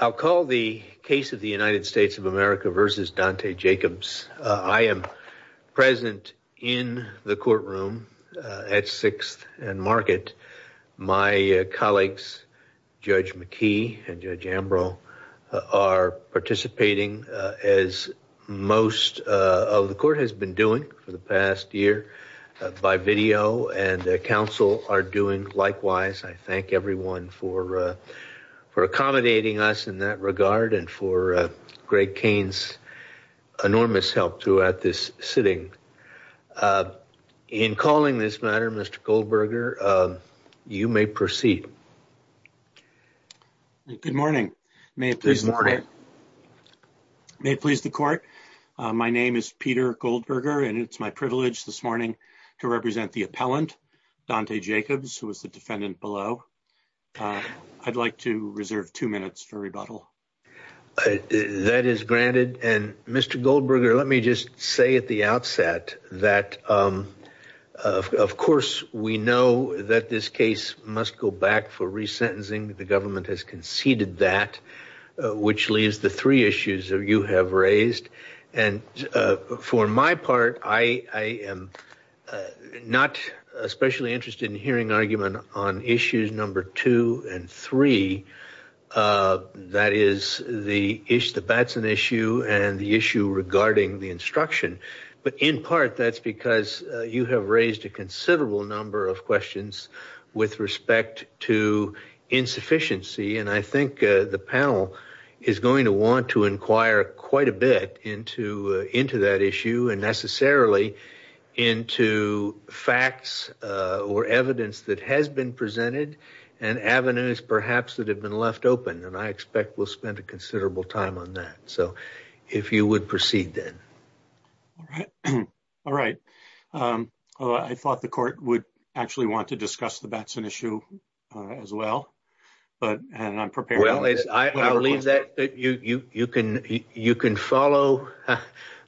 I'll call the case of the United States of America v. Dante Jacobs. I am present in the courtroom at 6th and Market. My colleagues Judge McKee and Judge Ambrose are participating as most of the court has been doing for the past year by video and counsel are doing likewise. I thank everyone for accommodating us in that regard and for Greg Kane's enormous help throughout this sitting. In calling this matter Mr. Goldberger you may proceed. Good morning. May it please the court. My name is Peter Goldberger and it's my privilege this morning to represent the appellant Dante Jacobs who was the defendant below. I'd like to reserve two minutes for rebuttal. That is granted and Mr. Goldberger let me just say at the outset that of course we know that this case must go back for resentencing. The government has conceded that which leaves the three issues you have raised and for my interest in hearing argument on issues number two and three that is the issue regarding the instruction but in part that's because you have raised a considerable number of questions with respect to insufficiency and I think the panel is going to want to inquire quite a bit into that issue and necessarily into facts or evidence that has been presented and avenues perhaps that have been left open and I expect we'll spend a considerable time on that. So if you would proceed then. All right. I thought the court would actually want to discuss the Batson issue as well but and I'm prepared. I'll leave that you can follow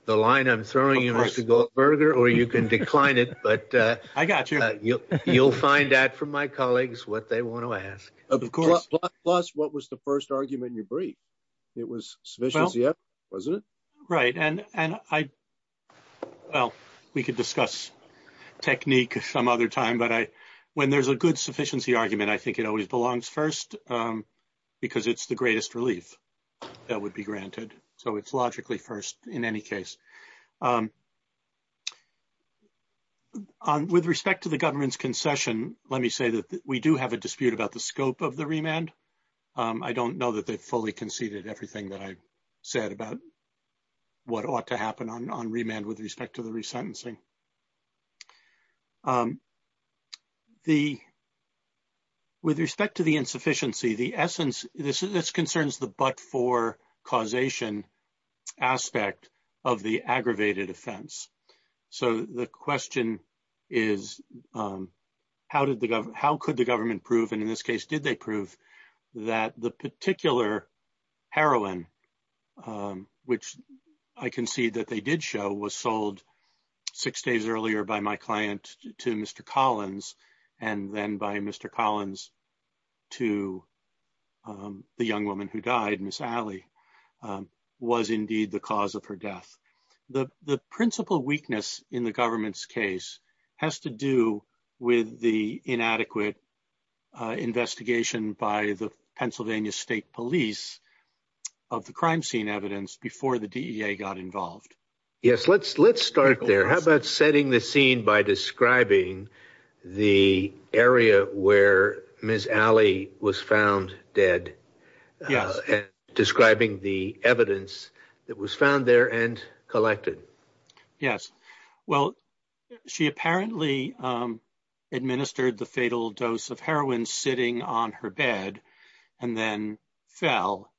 the line I'm throwing you Mr. Goldberger or you can decline it but you'll find out from my colleagues what they want to ask. Plus what was the first argument you briefed? It was sufficiency wasn't it? Right and I well we could discuss technique some other time but when there's a good sufficiency argument I think it always belongs first because it's the greatest relief that would be granted so it's logically first in any case. With respect to the government's concession let me say that we do have a dispute about the scope of the remand. I don't know that they've fully conceded everything that I said about what ought to happen on remand with respect to the resentencing. With respect to the insufficiency the essence this concerns the but-for causation aspect of the aggravated offense. So the question is how could the government prove and in this case did they prove that the particular heroin which I can see that they did show was sold six days earlier by my client to Mr. Collins and then by Mr. Collins to the young woman who died Miss Alley was indeed the cause of her death. The principal weakness in the government's case has to do with the inadequate investigation by the Pennsylvania State Police of the crime scene evidence before the DEA got involved. Yes let's start there how about setting the scene by describing the area where Miss Alley was found dead and describing the evidence that was found there and collected. Yes well she apparently administered the fatal dose of heroin sitting on her bed and then fell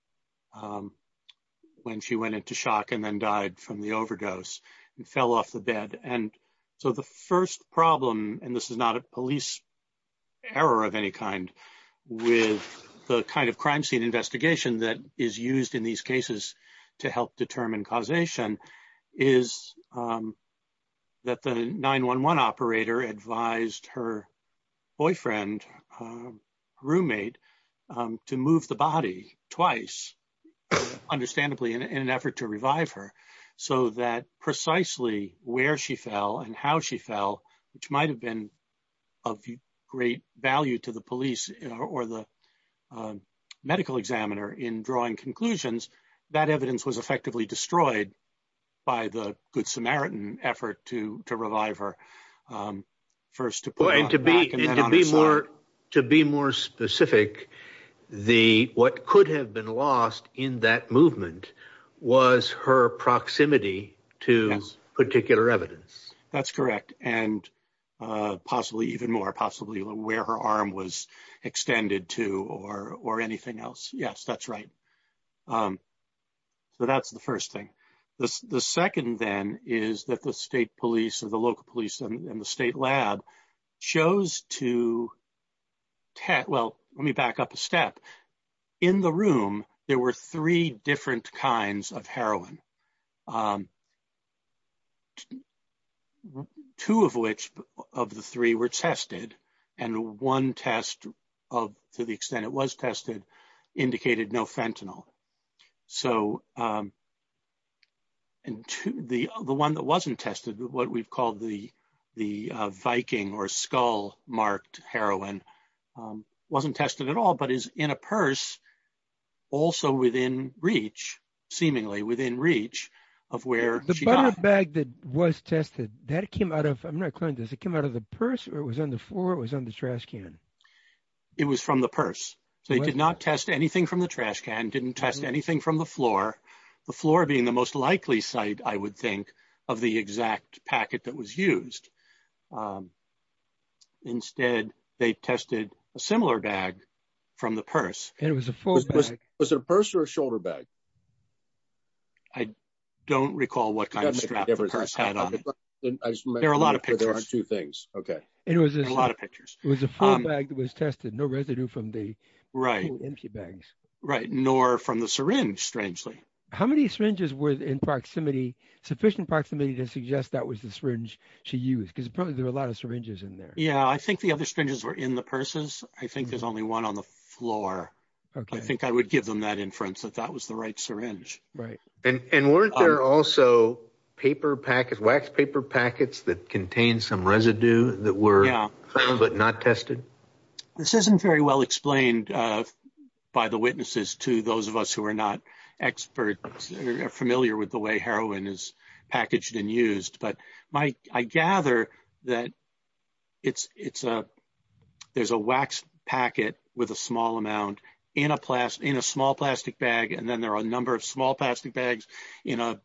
when she went into shock and then died from the overdose and fell off the bed and so the first problem and this is not a police error of any kind with the kind of crime scene is that the 911 operator advised her boyfriend roommate to move the body twice understandably in an effort to revive her so that precisely where she fell and how she fell which might have been of great value to the police or the medical examiner in drawing conclusions that evidence was effectively destroyed by the Good Samaritan effort to to revive her first to put and to be more to be more specific the what could have been lost in that movement was her proximity to particular evidence that's correct and possibly even more possibly where her arm was extended to or or anything else yes that's right so that's the first thing this the second then is that the state police or the local police and the state lab chose to test well let me back up a step in the room there were three different kinds of heroin um two of which of the three were tested and one test of to the extent it was tested indicated no fentanyl so um and the the one that wasn't tested what we've called the the viking or skull marked heroin wasn't tested at all but is in a purse also within reach seemingly within reach of where the bag that was tested that came out of i'm not clear does it come out of the purse or it was on the floor it was on the trash can it was from the purse so they did not test anything from the trash can didn't test anything from the floor the floor being the most likely site i would think of the exact packet that was was it a purse or a shoulder bag i don't recall what kind of there are a lot of pictures there are two things okay it was a lot of pictures it was a full bag that was tested no residue from the right empty bags right nor from the syringe strangely how many syringes were in proximity sufficient proximity to suggest that was the syringe she used because probably there were a lot of syringes in there yeah i think the other syringes were in the purses i think there's only one on the floor okay i think i would give them that inference that that was the right syringe right and and weren't there also paper packets wax paper packets that contained some residue that were but not tested this isn't very well explained uh by the witnesses to those of us who are not experts are familiar with the way heroin is packaged and used but my i gather that it's it's a there's a wax packet with a small amount in a class in a small plastic bag and then there are a number of small plastic bags in a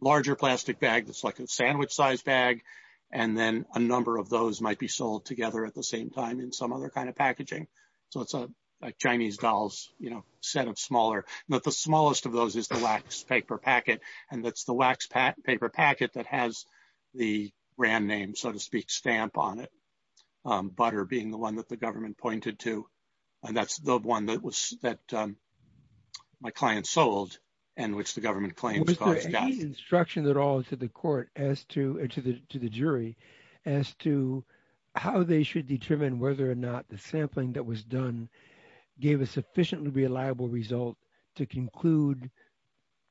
larger plastic bag that's like a sandwich size bag and then a number of those might be sold together at the same time in some other kind of packaging so it's a chinese doll's you know set of smaller but the smallest of those is the wax paper packet and that's the wax paper packet that has the brand name so to speak stamp on it um butter being the one that the government pointed to and that's the one that was that um my client sold and which the government claims instruction at all to the court as to to the to the jury as to how they should determine whether or not the sampling that was done gave a sufficiently reliable result to conclude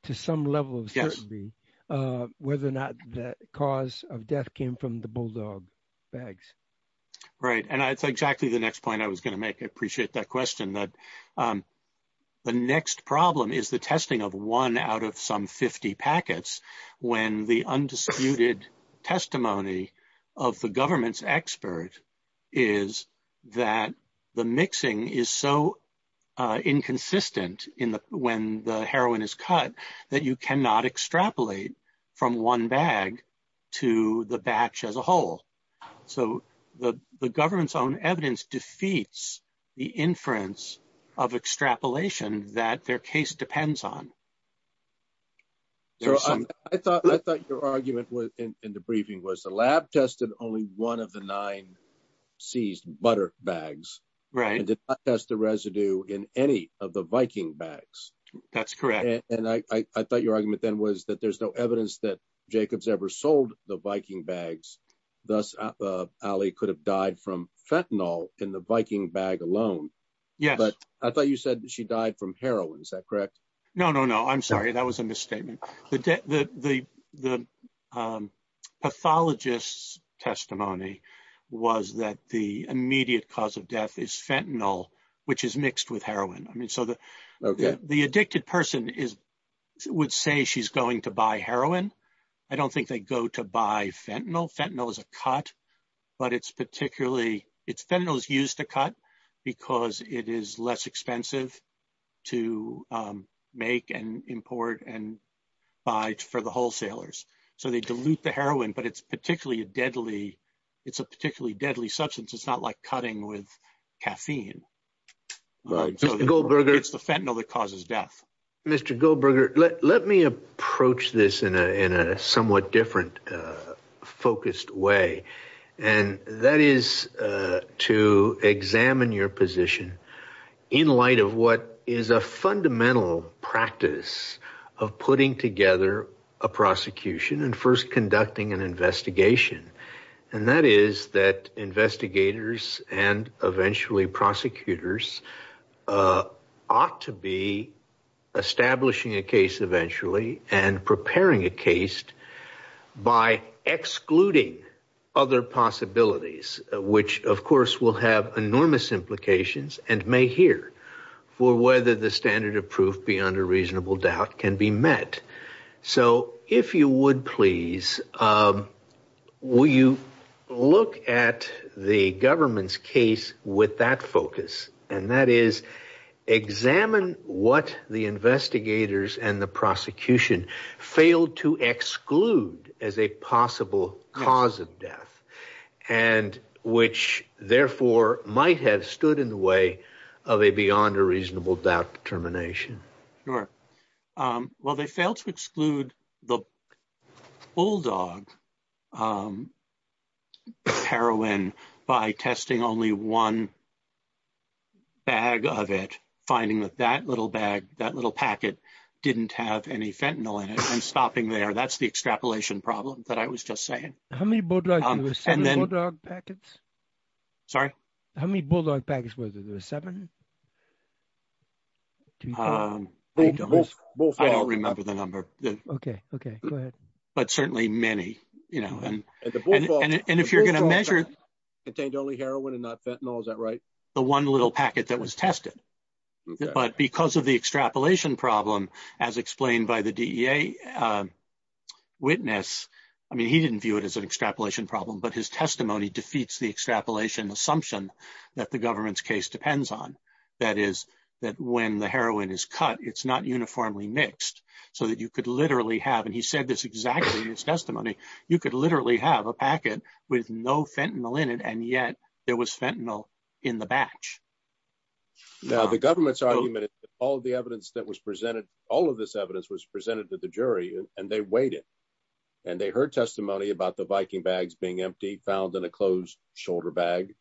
to some level of certainty uh whether or not the cause of death came from the bulldog bags right and that's exactly the next point i was going to make i appreciate that question that um the next problem is the testing of one out of some 50 packets when the undisputed testimony of the government's expert is that the mixing is so uh inconsistent in the when the heroin is cut that you cannot extrapolate from one bag to the batch as a whole so the the government's own evidence defeats the inference of extrapolation that their case depends on so i thought i thought your argument was in the briefing was the lab tested only one of the nine seized butter bags right and did not test the residue in any of the viking bags that's correct and i i thought your argument then was that there's no evidence that jacobs ever sold the viking bags thus ali could have died from fentanyl in the viking bag alone yeah but i thought you she died from heroin is that correct no no no i'm sorry that was a misstatement the the the the um pathologist's testimony was that the immediate cause of death is fentanyl which is mixed with heroin i mean so the the addicted person is would say she's going to buy heroin i don't think they go to buy fentanyl fentanyl is a cut but it's particularly it's fentanyl is used to cut because it is less expensive to make and import and buy for the wholesalers so they dilute the heroin but it's particularly a deadly it's a particularly deadly substance it's not like cutting with caffeine right goldberger it's the fentanyl that causes death mr goldberger let let me approach this in a in a somewhat different uh focused way and that is uh to examine your position in light of what is a fundamental practice of putting together a prosecution and first conducting an investigation and that is that investigators and eventually prosecutors uh ought to be establishing a case eventually and preparing a case by excluding other possibilities which of course will have enormous implications and may hear for whether the standard of proof beyond a reasonable doubt can be met so if you would please um will you look at the case with that focus and that is examine what the investigators and the prosecution failed to exclude as a possible cause of death and which therefore might have stood in the way of a beyond a reasonable doubt determination sure um well they failed to exclude the bulldog um heroin by testing only one bag of it finding that that little bag that little packet didn't have any fentanyl in it and stopping there that's the extrapolation problem that i was just saying how many packets sorry how many bulldog packets was it was seven um i don't remember the number okay okay but certainly many you know and and if you're going to measure contained only heroin and not fentanyl is that right the one little packet that was tested but because of the extrapolation problem as explained by the dea uh witness i mean he didn't view it as an extrapolation problem but his testimony defeats the extrapolation assumption that the government's case depends on that is that when the heroin is cut it's not uniformly mixed so that you could literally have and he said this exactly in his testimony you could literally have a packet with no fentanyl in it and yet there was fentanyl in the batch now the government's argument is all the evidence that was presented all of this evidence was presented to the jury and they waited and they heard testimony about the viking bags being empty found in a closed shoulder bag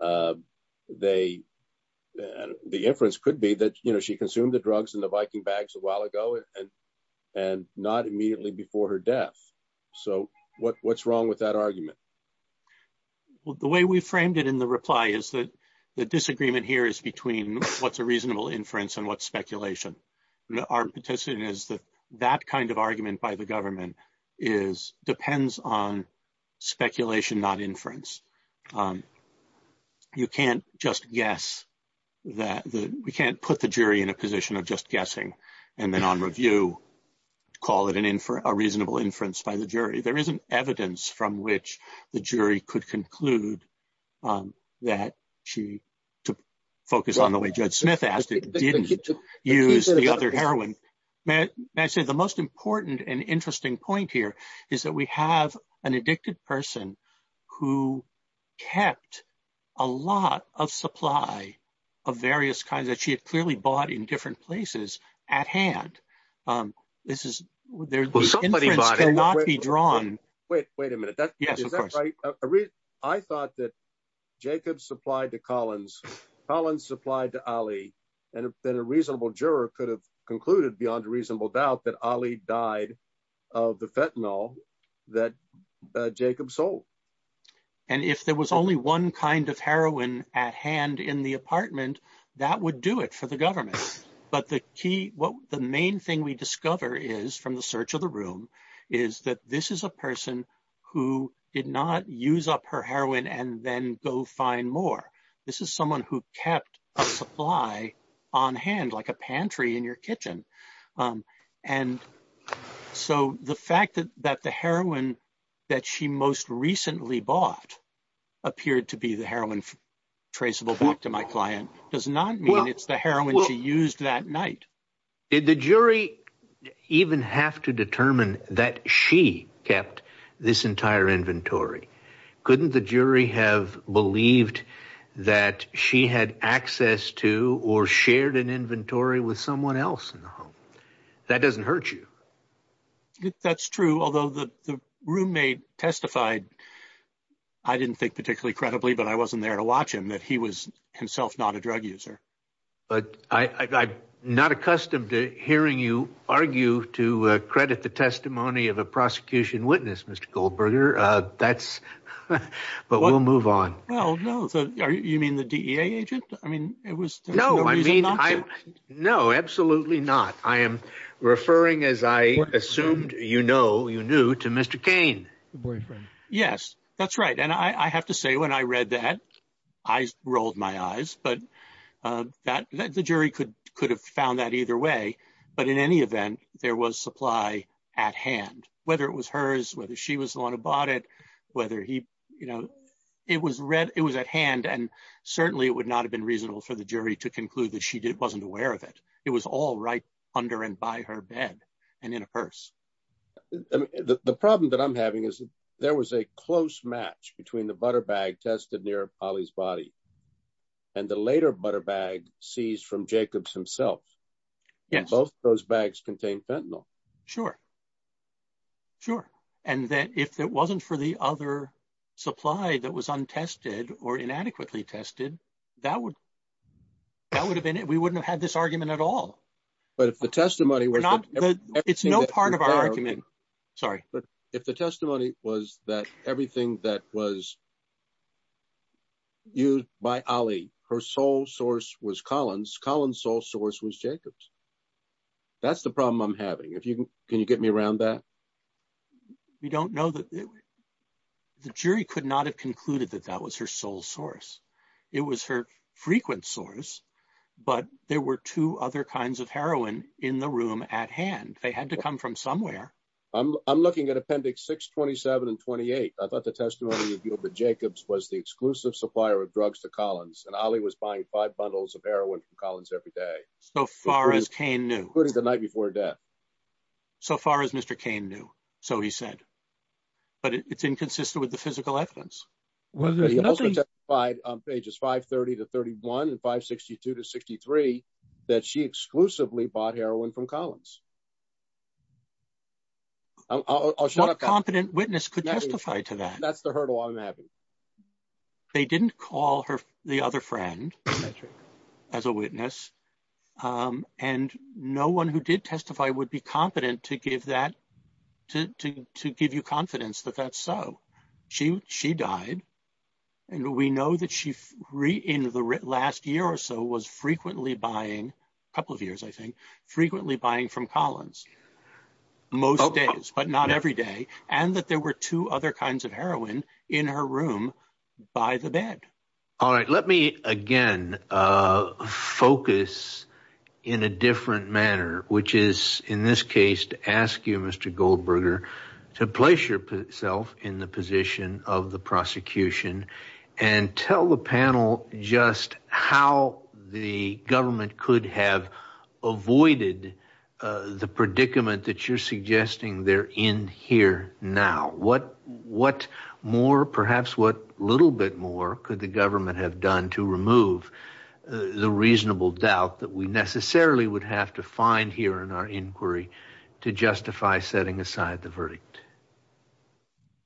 uh they and the inference could be that you know she consumed the drugs in the viking bags a while ago and and not immediately before her death so what what's wrong with that argument well the way we framed it in the reply is that the disagreement here is between what's a reasonable inference and what speculation our petition is that that kind of argument by the inference um you can't just guess that the we can't put the jury in a position of just guessing and then on review call it an infer a reasonable inference by the jury there isn't evidence from which the jury could conclude um that she to focus on the way judge smith asked it didn't use the other heroin may i say the most important and interesting point here is that we have an addicted person who kept a lot of supply of various kinds that she had clearly bought in different places at hand um this is there's not be drawn wait wait a minute that's yes i thought that jacob supplied to collins collins supplied to ali and then a reasonable juror could concluded beyond a reasonable doubt that ali died of the fentanyl that jacob sold and if there was only one kind of heroin at hand in the apartment that would do it for the government but the key what the main thing we discover is from the search of the room is that this is a person who did not use up her heroin and then go find more this is someone who kept a supply on hand like a pantry in your kitchen um and so the fact that that the heroin that she most recently bought appeared to be the heroin traceable back to my client does not mean it's the heroin she used that night did the jury even have to determine that she kept this entire inventory couldn't the jury have believed that she had access to or shared an inventory with someone else in the home that doesn't hurt you that's true although the roommate testified i didn't think particularly credibly but i wasn't there to watch him that he was himself not a drug user but i i'm not accustomed to hearing you argue to credit the testimony of prosecution witness mr goldberger uh that's but we'll move on well no so are you mean the dea agent i mean it was no i mean i no absolutely not i am referring as i assumed you know you knew to mr cane the boyfriend yes that's right and i i have to say when i read that i rolled my eyes but uh that the jury could could have found that either way but in any event there was supply at hand whether it was hers whether she was the one who bought it whether he you know it was read it was at hand and certainly it would not have been reasonable for the jury to conclude that she didn't wasn't aware of it it was all right under and by her bed and in a purse the problem that i'm having is there was a close match between the butter bag tested near polly's body and the later butter bag seized from jacobs himself yes both those bags contain fentanyl sure sure and that if it wasn't for the other supply that was untested or inadequately tested that would that would have been it we wouldn't have had this argument at all but if the testimony we're not it's no part of our argument sorry but if the testimony was that everything that was used by ollie her sole source was colin's colin's sole source was jacobs that's the problem i'm having if you can you get me around that we don't know that the jury could not have concluded that that was her sole source it was her frequent source but there were two other kinds of heroin in the room at hand they had to come from somewhere i'm i'm looking at appendix 6 27 and 28 i thought the testimony revealed that jacobs was the exclusive supplier of drugs to collins and ollie was buying five bundles of heroin from collins every day so far as kane knew including the night before death so far as mr kane knew so he said but it's inconsistent with the physical evidence well he also testified on pages 5 30 to 31 and 562 to 63 that she exclusively bought heroin from collins what a competent witness could testify to that that's the hurdle i'm having they didn't call her the other friend as a witness um and no one who did testify would be competent to give that to to give you confidence that that's so she she died and we know that she free in the last year or so was frequently buying a couple of years i think frequently buying from collins most days but not every day and that there were two other kinds of heroin in her room by the bed all right let me again uh focus in a different manner which is in this case to ask you mr goldberger to place yourself in the position of the prosecution and tell the panel just how the government could have avoided uh the predicament that you're suggesting they're in here now what what more perhaps what little bit more could the government have done to remove the reasonable doubt that we necessarily would have to find here in our inquiry to justify setting aside the verdict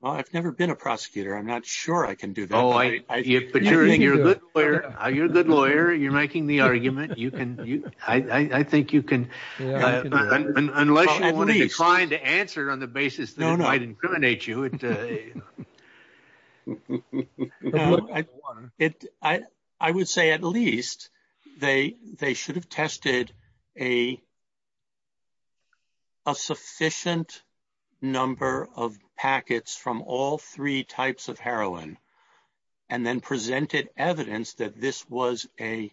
well i've never been a prosecutor i'm not sure i can do that oh you're a good lawyer you're a good lawyer you're making the argument you can you i i think you can unless you want to decline to answer on the basis that might incriminate you a it i i would say at least they they should have tested a a sufficient number of packets from all three types of heroin and then presented evidence that this was a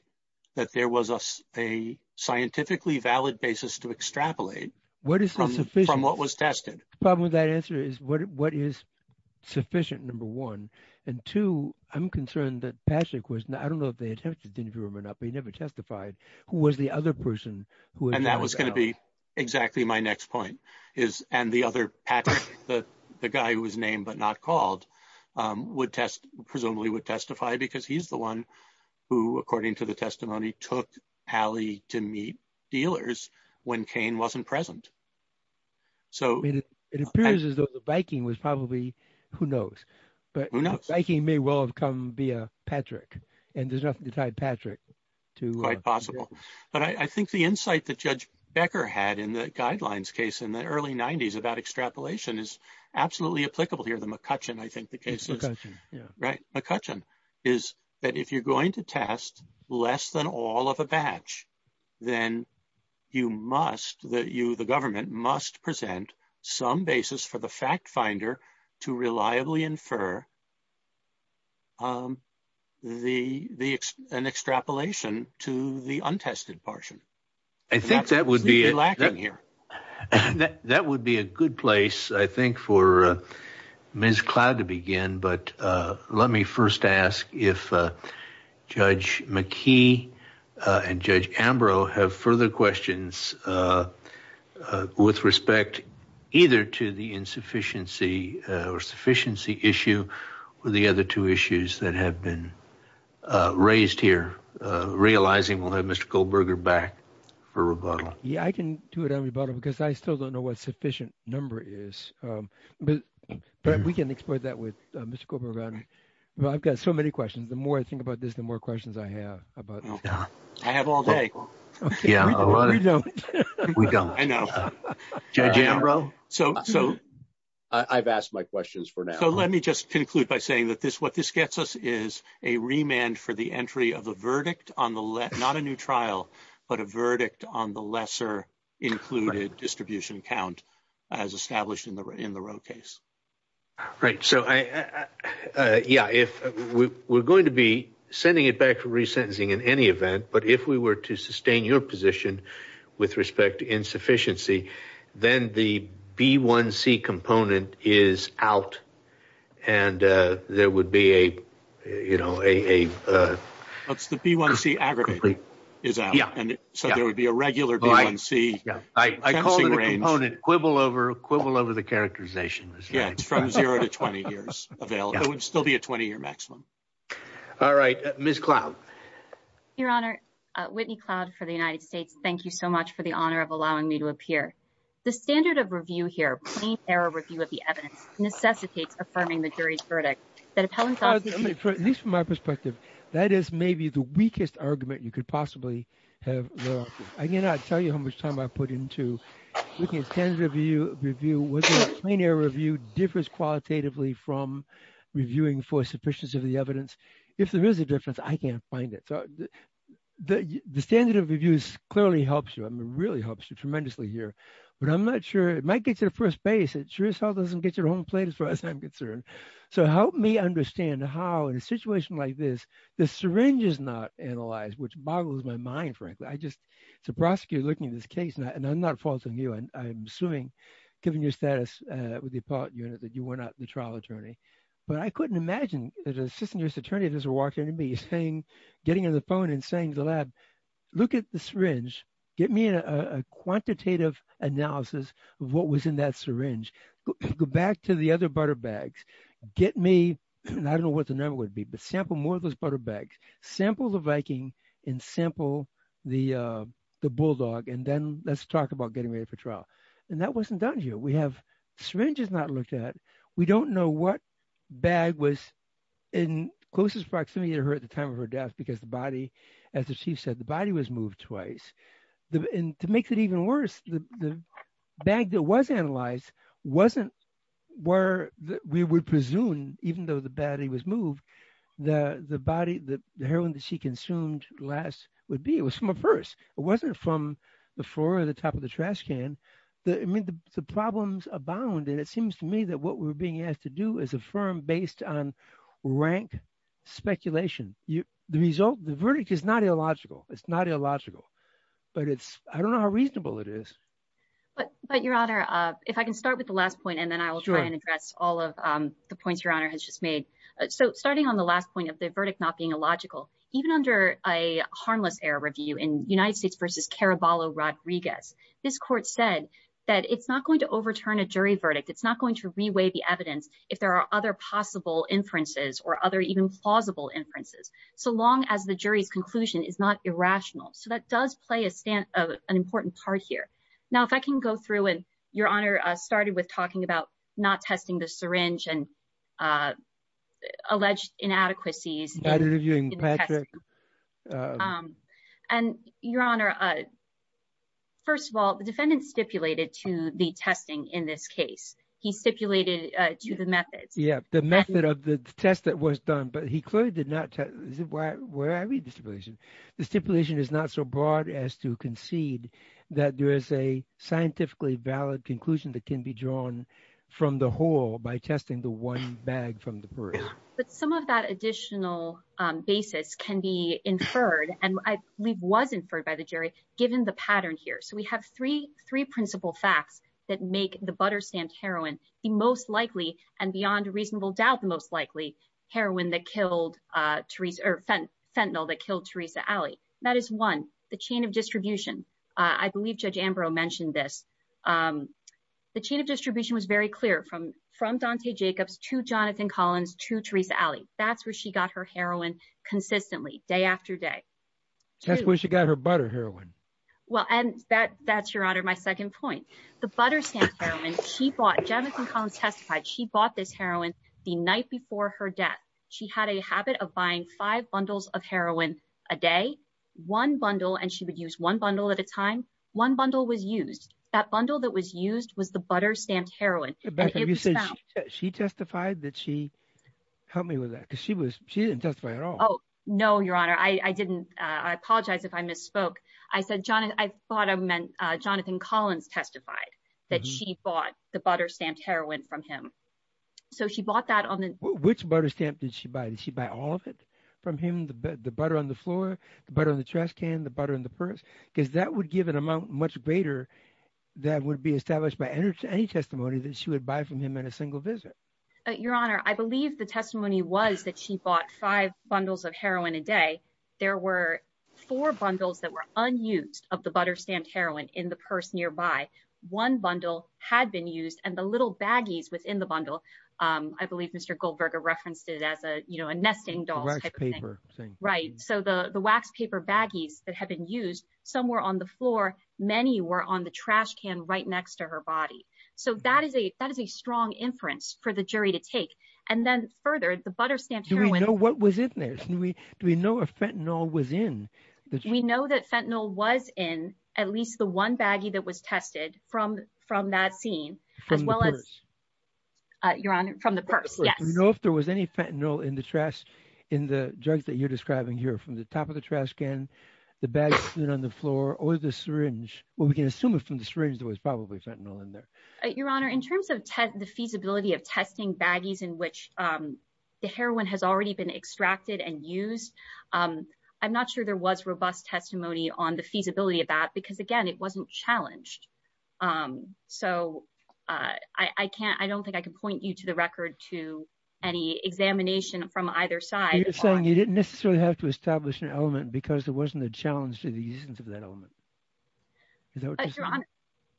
that there was a a scientifically valid basis to extrapolate what is this from what was sufficient number one and two i'm concerned that patrick was i don't know if they attempted to determine or not but he never testified who was the other person who and that was going to be exactly my next point is and the other patrick the the guy who was named but not called um would test presumably would testify because he's the one who according to the testimony took alley to meet dealers when cain wasn't present so it appears as though the biking was probably who knows but who knows biking may well have come via patrick and there's nothing to tie patrick to quite possible but i i think the insight that judge becker had in the guidelines case in the early 90s about extrapolation is absolutely applicable here the mccutchen i think the case right mccutchen is that if you're going to test less than all of a batch then you must that you the government must present some basis for the fact finder to reliably infer um the the an extrapolation to the untested portion i think that would be lacking here that would be a good place i think for uh ms cloud to begin but uh let me first ask if uh judge mckee and judge ambro have further questions uh with respect either to the insufficiency or sufficiency issue or the other two issues that have been uh raised here uh realizing we'll have mr goldberger back for um but but we can explore that with mr gober around well i've got so many questions the more i think about this the more questions i have about i have all day yeah we don't we don't i know judge ambro so so i've asked my questions for now so let me just conclude by saying that this what this gets us is a remand for the entry of a verdict on the left not a new trial but a verdict on the in the road case right so i uh yeah if we we're going to be sending it back for resentencing in any event but if we were to sustain your position with respect to insufficiency then the b1c component is out and uh there would be a you know a uh that's the b1c aggregate is out and so there would be a regular b1c i call it a component quibble over quibble over the characterization yeah it's from zero to 20 years available it would still be a 20 year maximum all right ms cloud your honor uh whitney cloud for the united states thank you so much for the honor of allowing me to appear the standard of review here plain error review of the evidence necessitates affirming the jury's verdict that appellant at least from my perspective that is maybe the i cannot tell you how much time i put into looking at standard review review was a plain error review differs qualitatively from reviewing for sufficiency of the evidence if there is a difference i can't find it so the the standard of reviews clearly helps you i mean really helps you tremendously here but i'm not sure it might get to the first base it sure as hell doesn't get your own plate as far as i'm concerned so help me understand how in a situation like this the prosecutor looking at this case and i'm not faulting you and i'm assuming given your status with the appellate unit that you were not the trial attorney but i couldn't imagine that an assistant just attorney doesn't walk into me saying getting on the phone and saying to the lab look at the syringe get me a quantitative analysis of what was in that syringe go back to the other butter bags get me and i don't know what the number would be but sample more of those butter sample the viking and sample the uh the bulldog and then let's talk about getting ready for trial and that wasn't done here we have syringes not looked at we don't know what bag was in closest proximity to her at the time of her death because the body as the chief said the body was moved twice the and to make it even worse the the bag that was analyzed wasn't where we would presume even though the baddie was moved the the body the heroin that she consumed last would be it was from a purse it wasn't from the floor or the top of the trash can the i mean the problems abound and it seems to me that what we're being asked to do is affirm based on rank speculation you the result the verdict is not illogical it's not illogical but it's i don't know how reasonable it is but but your honor uh if i can start with the last point and then i will try and uh so starting on the last point of the verdict not being illogical even under a harmless error review in united states versus caraballo rodriguez this court said that it's not going to overturn a jury verdict it's not going to reweigh the evidence if there are other possible inferences or other even plausible inferences so long as the jury's conclusion is not irrational so that does play a stance of an important part here now if i can go through and your honor started with talking about not testing the syringe and uh alleged inadequacies and your honor uh first of all the defendant stipulated to the testing in this case he stipulated uh to the methods yeah the method of the test that was done but he clearly did not test where i read the stipulation the stipulation is not so broad as to concede that there is a scientifically valid conclusion that can be drawn from the whole by testing the one bag from the purse but some of that additional basis can be inferred and i believe was inferred by the jury given the pattern here so we have three three principal facts that make the butter stamped heroin the most likely and beyond reasonable doubt the most likely heroin that killed uh teresa or fentanyl that killed teresa alley that is one the chain of distribution i believe judge ambrose mentioned this um the chain of distribution was very clear from from dante jacobs to jonathan collins to teresa alley that's where she got her heroin consistently day after day that's where she got her butter heroin well and that that's your honor my second point the butter stamp heroin she bought jonathan collins testified she bought this heroin the night before her death she had a habit of buying five bundles of heroin a day one bundle and she would use one bundle at a time one bundle was used that bundle that was used was the butter stamped heroin she testified that she helped me with that because she was she didn't testify at all oh no your honor i i didn't uh i apologize if i misspoke i said jonathan i thought i meant uh jonathan collins testified that she bought the butter stamped heroin from him so she bought that on the which butter stamp did she buy did she buy all of from him the butter on the floor the butter on the trash can the butter in the purse because that would give an amount much greater that would be established by any testimony that she would buy from him in a single visit your honor i believe the testimony was that she bought five bundles of heroin a day there were four bundles that were unused of the butter stamped heroin in the purse nearby one bundle had been used and the little baggies within the bundle um i believe mr goldberger referenced it as a you know a nesting doll right so the the wax paper baggies that have been used somewhere on the floor many were on the trash can right next to her body so that is a that is a strong inference for the jury to take and then further the butter stamp do we know what was in there do we do we know if fentanyl was in we know that fentanyl was in at least the one baggie that was tested from from that scene as well as uh your honor from the purse yes you know if there was any fentanyl in the trash in the drugs that you're describing here from the top of the trash can the bags sitting on the floor or the syringe well we can assume it from the syringe there was probably fentanyl in there your honor in terms of the feasibility of testing baggies in which um the heroin has already been extracted and used um i'm not sure there was robust testimony on the feasibility of that because again it wasn't challenged um so uh i i can't i don't think i can point you to the record to any examination from either side you're saying you didn't necessarily have to establish an element because there wasn't a challenge to the existence of that element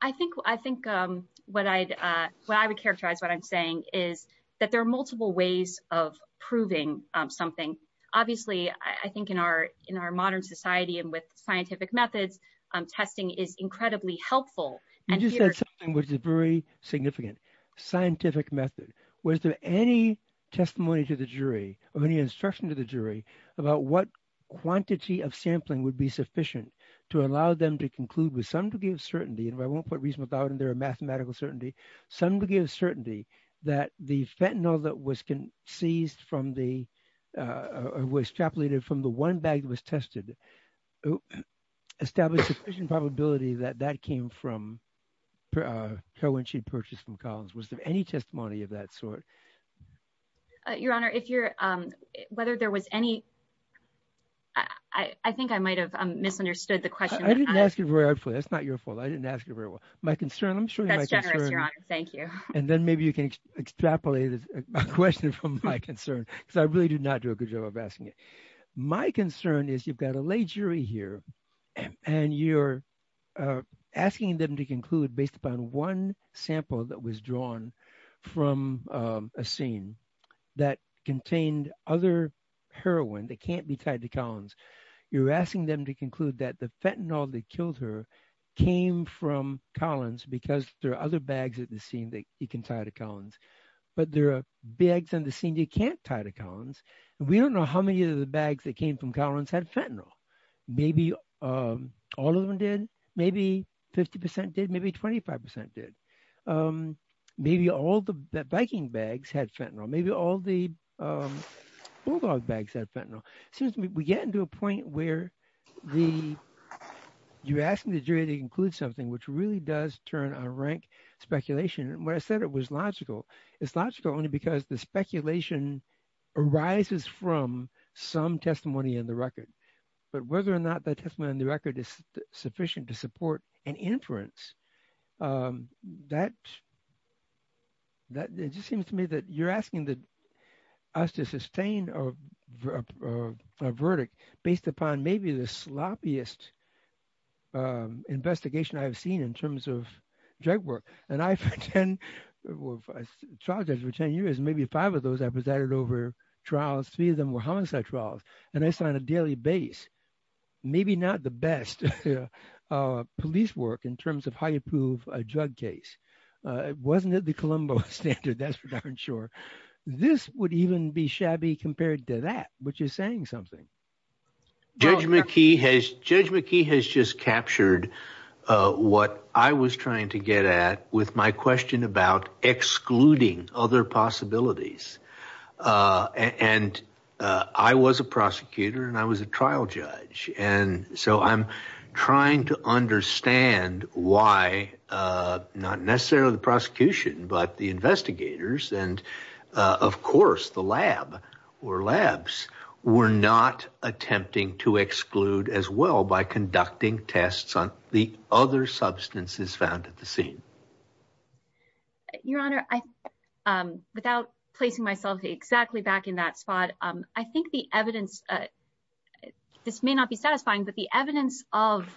i think i think um what i'd uh what i would characterize what i'm saying is that there are multiple ways of proving something obviously i think in our in our modern society and with scientific methods um testing is incredibly helpful you just said something which is very significant scientific method was there any testimony to the jury of any instruction to the jury about what quantity of sampling would be sufficient to allow them to conclude with some degree of certainty and i won't put reason without and there are mathematical certainty some degree of certainty that the fentanyl that was seized from the uh was extrapolated from the one bag that was tested established sufficient probability that that came from her when she purchased from collins was there any testimony of that sort your honor if you're um whether there was any i i think i might have misunderstood the question i didn't ask it very hard for that's not your fault i didn't ask it very well my concern your honor thank you and then maybe you can extrapolate a question from my concern because i really do not do a good job of asking it my concern is you've got a lay jury here and you're asking them to conclude based upon one sample that was drawn from a scene that contained other heroin that can't be tied to collins you're asking them to conclude that the fentanyl that there are other bags at the scene that you can tie to collins but there are bags on the scene you can't tie to collins we don't know how many of the bags that came from collins had fentanyl maybe um all of them did maybe 50 did maybe 25 did um maybe all the biking bags had fentanyl maybe all the um bulldog bags had fentanyl since we get into a point where the you're asking the rank speculation and when i said it was logical it's logical only because the speculation arises from some testimony in the record but whether or not that testimony in the record is sufficient to support an inference um that that it just seems to me that you're asking the us to sustain a a verdict based upon maybe the sloppiest um investigation i've seen in terms of drug work and i've had 10 charges for 10 years maybe five of those i presided over trials three of them were homicide trials and i signed a daily base maybe not the best uh police work in terms of how you prove a drug case uh wasn't it the colombo standard that's for darn sure this would even be something judge mckee has judge mckee has just captured uh what i was trying to get at with my question about excluding other possibilities uh and uh i was a prosecutor and i was a trial judge and so i'm trying to understand why uh not necessarily the prosecution but the investigators and uh of course the lab or labs were not attempting to exclude as well by conducting tests on the other substances found at the scene your honor i um without placing myself exactly back in that spot um i think the evidence uh this may not be satisfying but the evidence of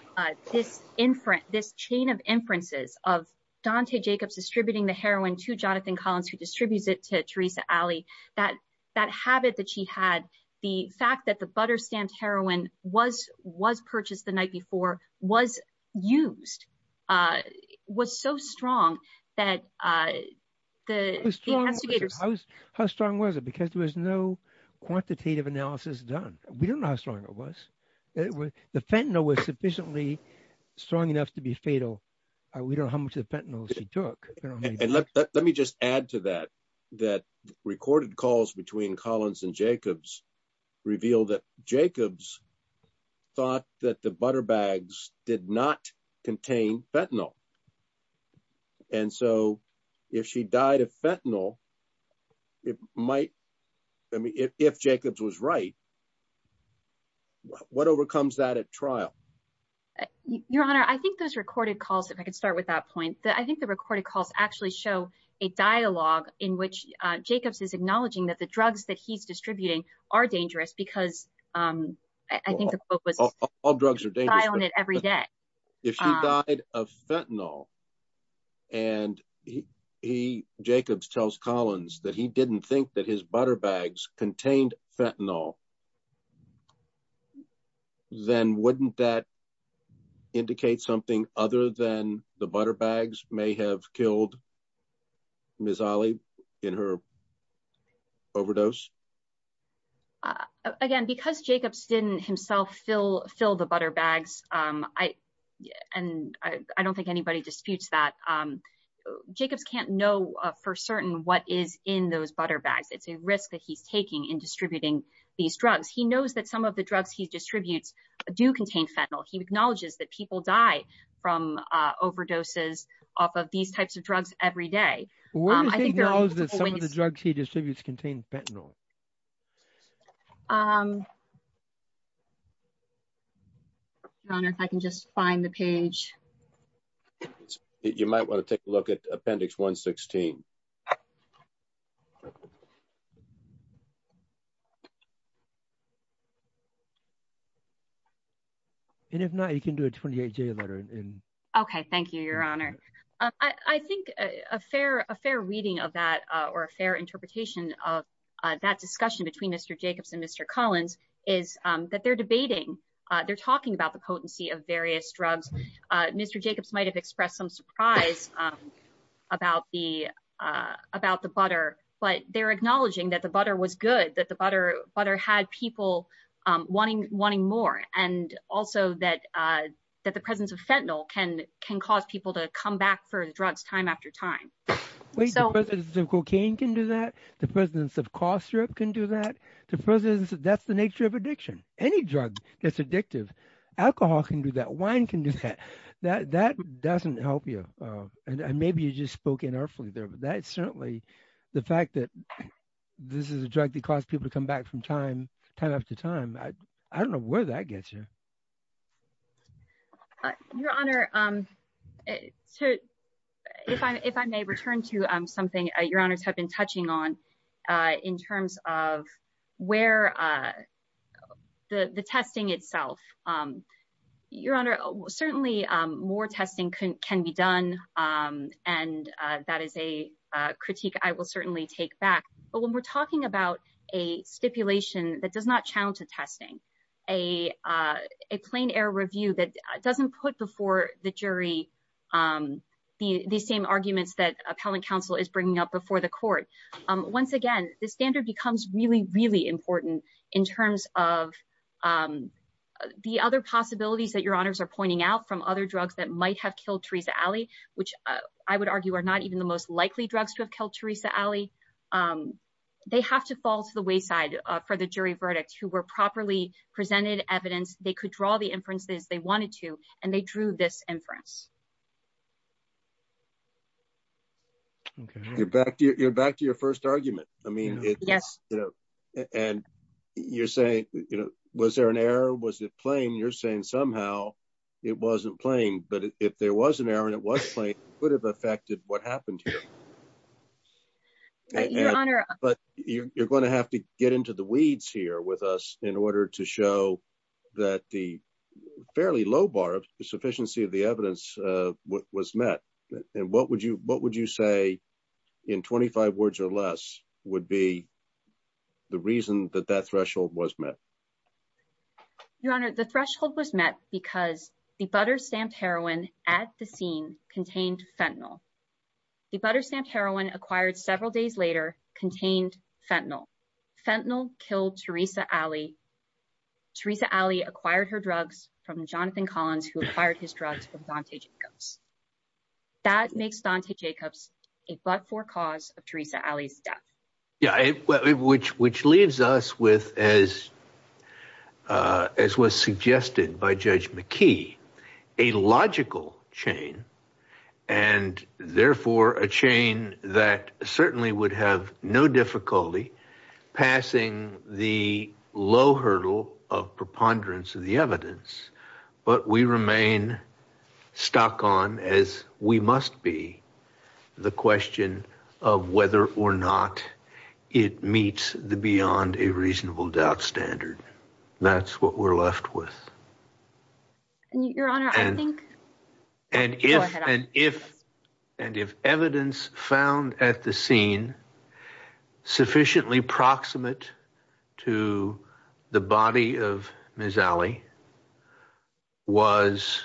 this inference this chain of inferences of dante jacobs distributing the heroin to jonathan collins who distributes it to theresa alley that that habit that she had the fact that the butter stamped heroin was was purchased the night before was used uh was so strong that uh the how strong was it because there was no quantitative analysis done we don't know how strong it was the fentanyl was sufficiently strong enough to be fatal we don't know how much the fentanyl she and let me just add to that that recorded calls between collins and jacobs reveal that jacobs thought that the butter bags did not contain fentanyl and so if she died of fentanyl it might i mean if jacobs was right what overcomes that at trial your honor i think those recorded calls if i could start with that point that i think the recorded calls actually show a dialogue in which uh jacobs is acknowledging that the drugs that he's distributing are dangerous because um i think the quote was all drugs are daily on it every day if she died of fentanyl and he he jacobs tells collins that he didn't think that his butter bags contained fentanyl then wouldn't that indicate something other than the butter bags may have killed miss ollie in her overdose again because jacobs didn't himself fill fill the butter bags um i and i i don't think anybody disputes that um jacobs can't know for certain what is in those butter bags it's a risk that he's taking in distributing these drugs he knows that some of the drugs he distributes do contain fentanyl he acknowledges that people die from uh overdoses off of these types of drugs every day um i think that some of the drugs he distributes contain fentanyl um your honor if i can just find the page you might want to take a look at appendix 116 and if not you can do a 28 j letter in okay thank you your honor i i think a fair a fair reading of that uh or a fair interpretation of uh that discussion between mr jacobs and mr collins is um that they're debating uh they're talking about the potency of various drugs uh mr jacobs might have expressed some surprise um about the uh about the butter but they're acknowledging that the butter was good that the butter butter had people um wanting wanting more and also that uh that the presence of fentanyl can can cause people to come back for the drugs time after time wait so the cocaine can do that the presence of cough syrup can do that the presence that's the nature of addiction any drug that's addictive alcohol can do that wine can do that that that doesn't help you uh and maybe you just spoke inartfully there but that certainly the fact that this is a drug that caused people to come back from time time after time i i don't know where that gets you your honor um so if i if i may return to um something your honors have been touching on uh in terms of where uh the the testing itself um your honor certainly um more testing can be done um and uh that is a uh critique i will certainly take back but when we're talking about a stipulation that does not channel to testing a uh a plain air review that doesn't put before the jury um the the same arguments that appellant counsel is bringing up before the court um once again the standard becomes really really important in terms of um the other possibilities that your honors are pointing out from other drugs that might have killed theresa alley which i would argue are not even the most likely drugs to have killed theresa alley um they have to fall to the wayside for the jury verdict who were properly presented evidence they could draw the inferences they wanted to and they drew this inference okay you're back you're back to your first argument i mean it's yes you know and you're saying you know was there an error was it plain you're saying somehow it wasn't plain but if there was an error and it was plain it could have affected what happened here but you're going to have to get into the weeds here with us in order to show that the fairly low bar of sufficiency of the evidence uh was met and what would you what would you say in 25 words or less would be the reason that that threshold was met your honor the threshold was met because the butter stamped heroin at the scene contained fentanyl the butter stamped heroin acquired several days later contained fentanyl fentanyl killed theresa alley theresa alley acquired her acquired his drugs from dante jacobs that makes dante jacobs a but-for cause of theresa alley's death yeah which which leaves us with as uh as was suggested by judge mckee a logical chain and therefore a chain that certainly would have no difficulty passing the low hurdle of preponderance of the evidence but we remain stuck on as we must be the question of whether or not it meets the beyond a reasonable doubt standard that's what we're left with and your honor i think and if and if and if evidence found at the scene sufficiently proximate to the body of miss alley was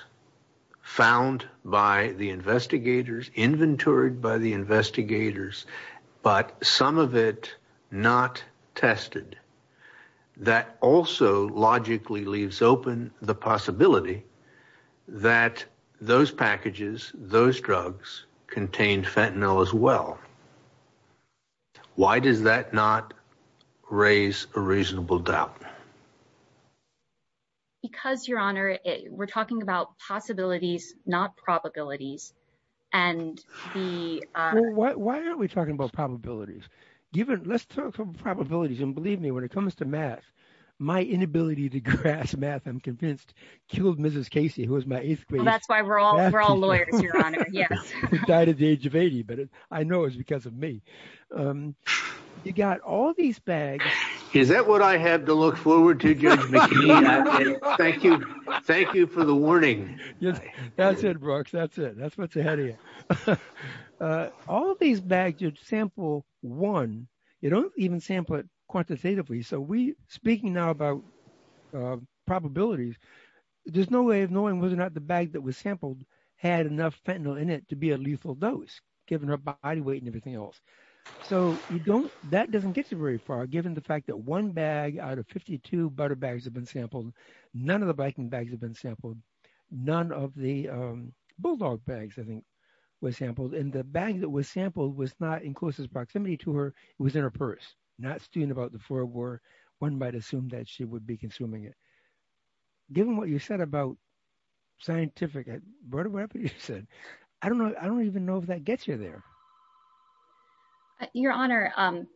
found by the investigators inventoried by the investigators but some of it not tested that also logically leaves open the possibility that those packages those drugs contained fentanyl as well why does that not raise a reasonable doubt because your honor we're talking about possibilities not probabilities and the why aren't we talking about probabilities given let's talk about probabilities and believe me when it comes to math my inability to grasp math i'm convinced killed mrs casey who was my eighth grade that's why we're all we're all lawyers your honor yes died at the age of 80 but i know it's because of me um you got all these bags is that what i have to look forward to judge mckee thank you thank you for the warning yes that's it brooks that's it that's what's ahead of you uh all these bags you sample one you don't even sample it quantitatively so we speaking now about probabilities there's no way of knowing whether or not the bag that was sampled had enough fentanyl in it to be a lethal dose given her body weight and everything else so you don't that doesn't get you very far given the fact that one bag out of 52 butter bags have been sampled none of the biking bags have been sampled none of the um bulldog bags i think were sampled and the bag that was sampled was not in closest proximity to her it was in her purse not student about the four war one might assume that she would be consuming it given what you said about scientific whatever you said i don't know i don't even know if that gets you there your honor um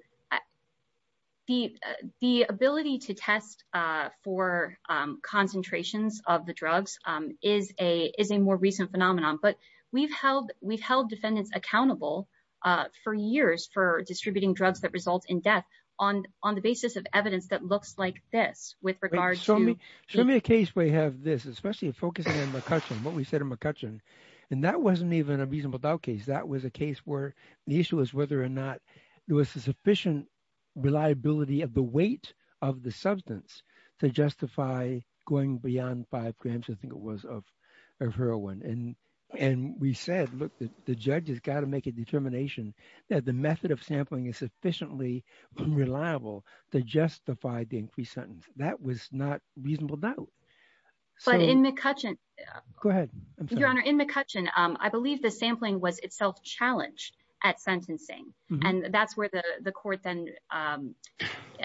the the ability to test uh for um concentrations of the drugs um is a is a more recent phenomenon but we've held we've held defendants accountable uh for years for distributing drugs that result in death on on the basis of this with regards to me show me a case where you have this especially focusing on mccutcheon what we said in mccutcheon and that wasn't even a reasonable doubt case that was a case where the issue was whether or not there was a sufficient reliability of the weight of the substance to justify going beyond five grams i think it was of of heroin and and we said look the judge has got to make a determination that the method of sampling is sufficiently reliable to justify the increased sentence that was not reasonable doubt but in mccutcheon go ahead your honor in mccutcheon um i believe the sampling was itself challenged at sentencing and that's where the the court then um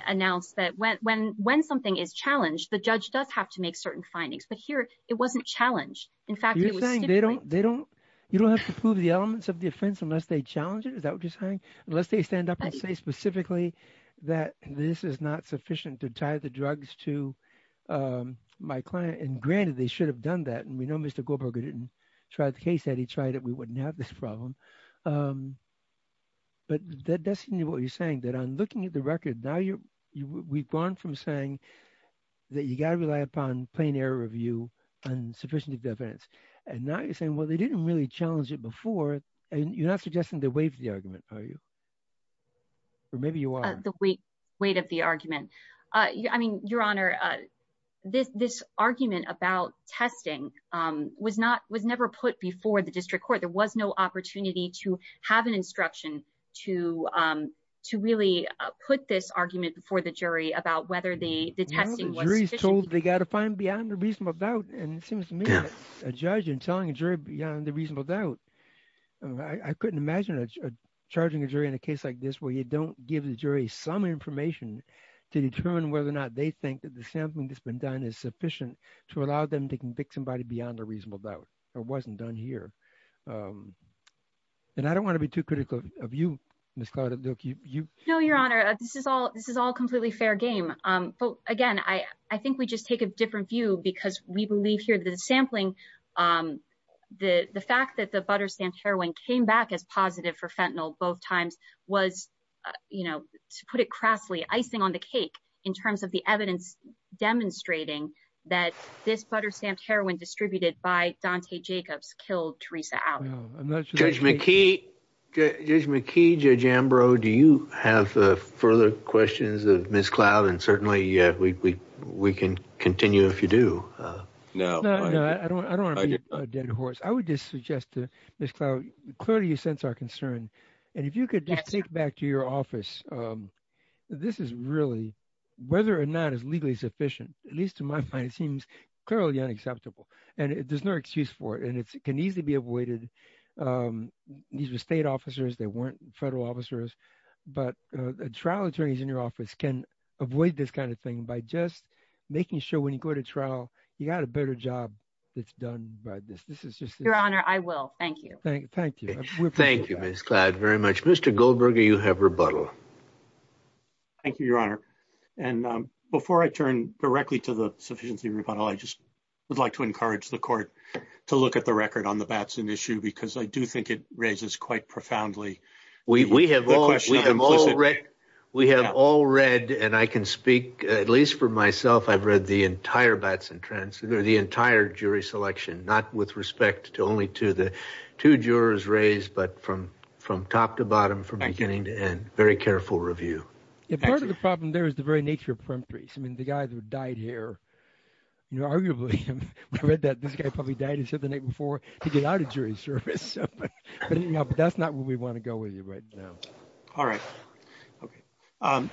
announced that when when when something is challenged the judge does have to make certain findings but here it wasn't challenged in fact you're saying they don't they don't you don't have to prove the elements of the offense unless they challenge is that what you're saying unless they stand up and say specifically that this is not sufficient to tie the drugs to um my client and granted they should have done that and we know mr goldberger didn't try the case that he tried it we wouldn't have this problem um but that's what you're saying that i'm looking at the record now you're we've gone from saying that you got to rely upon plain air review and sufficient evidence and now you're saying well they didn't really challenge it before and you're not suggesting the weight of the argument are you or maybe you are the weight weight of the argument uh i mean your honor uh this this argument about testing um was not was never put before the district court there was no opportunity to have an instruction to um to really put this argument before the jury about whether the the testing was told they got to find beyond the reasonable doubt and it seems to me a judge and telling a jury beyond the reasonable doubt i couldn't imagine a charging a jury in a case like this where you don't give the jury some information to determine whether or not they think that the sampling that's been done is sufficient to allow them to convict somebody beyond a reasonable doubt it wasn't done here and i don't want to be too critical of you miss claudette you know your honor this is all this is all completely fair game um but again i i think we just take a different view because we believe the sampling um the the fact that the butter stamped heroin came back as positive for fentanyl both times was you know to put it crassly icing on the cake in terms of the evidence demonstrating that this butter stamped heroin distributed by dante jacobs killed teresa out judge mckee judge mckee judge ambrose do you have further questions of miss cloud and certainly we we can continue if you do uh no no i don't i don't want to be a dead horse i would just suggest to miss cloud clearly you sense our concern and if you could just take back to your office um this is really whether or not it's legally sufficient at least in my mind it seems clearly unacceptable and there's no excuse for it and it can easily be avoided um these were state officers they weren't federal officers but uh trial attorneys in your office can avoid this kind of thing by just making sure when you go to trial you got a better job that's done by this this is just your honor i will thank you thank you thank you miss cloud very much mr goldberger you have rebuttal thank you your honor and um before i turn directly to the sufficiency rebuttal i just would like to encourage the court to look at the record on the batson issue because i do think it raises quite profoundly we we have all we have all read we have all read and i can speak at least for myself i've read the entire batson trance or the entire jury selection not with respect to only to the two jurors raised but from from top to bottom from beginning to end very careful review part of the problem there is the very nature of perimetries i mean the guys who died here you know arguably we read that this guy probably died he said the night before to get out of jury service but you know but that's not what we want to go with you right now all right okay um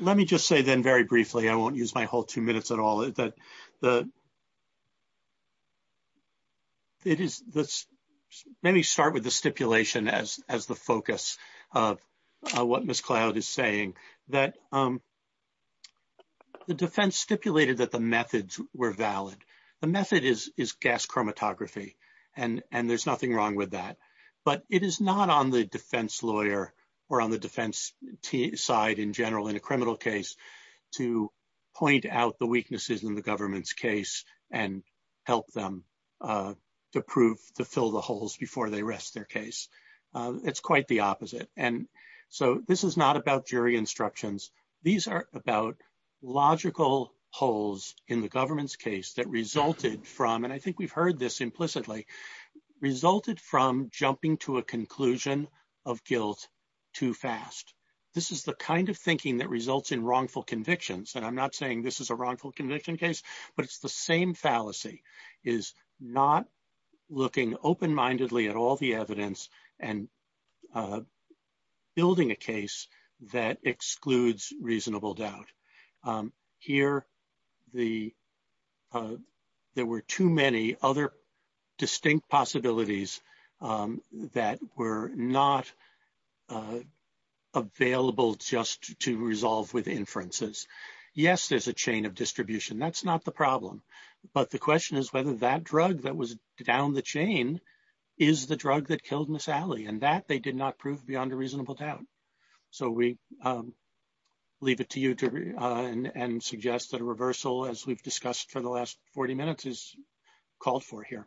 let me just say then very briefly i won't use my whole two minutes at all that the it is this let me start with the stipulation as as the focus of what miss cloud is saying that um the defense stipulated that the methods were valid the method is gas chromatography and and there's nothing wrong with that but it is not on the defense lawyer or on the defense side in general in a criminal case to point out the weaknesses in the government's case and help them uh to prove to fill the holes before they rest their case it's quite the opposite and so this is not about jury instructions these are about logical holes in the government's case that resulted from and i think we've heard this implicitly resulted from jumping to a conclusion of guilt too fast this is the kind of thinking that results in wrongful convictions and i'm not saying this is a wrongful conviction case but it's the same fallacy is not looking open-mindedly at all the evidence and uh building a case that excludes reasonable doubt um here the uh there were too many other distinct possibilities um that were not uh available just to resolve with inferences yes there's a chain of distribution that's not the problem but the question is whether that drug that was down the chain is the drug that killed miss alley and that they did not prove beyond a reasonable doubt so we um leave it to you to uh and suggest that a reversal as we've discussed for the last 40 minutes is called for here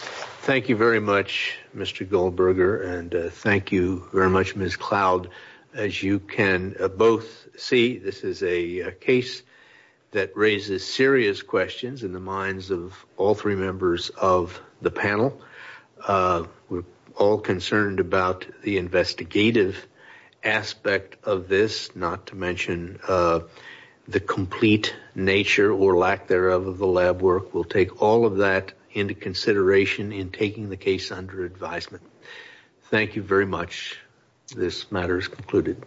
thank you very much mr goldberger and thank you very much miss cloud as you can both see this is a case that raises serious questions in the minds of all three aspect of this not to mention uh the complete nature or lack thereof of the lab work will take all of that into consideration in taking the case under advisement thank you very much this matter is concluded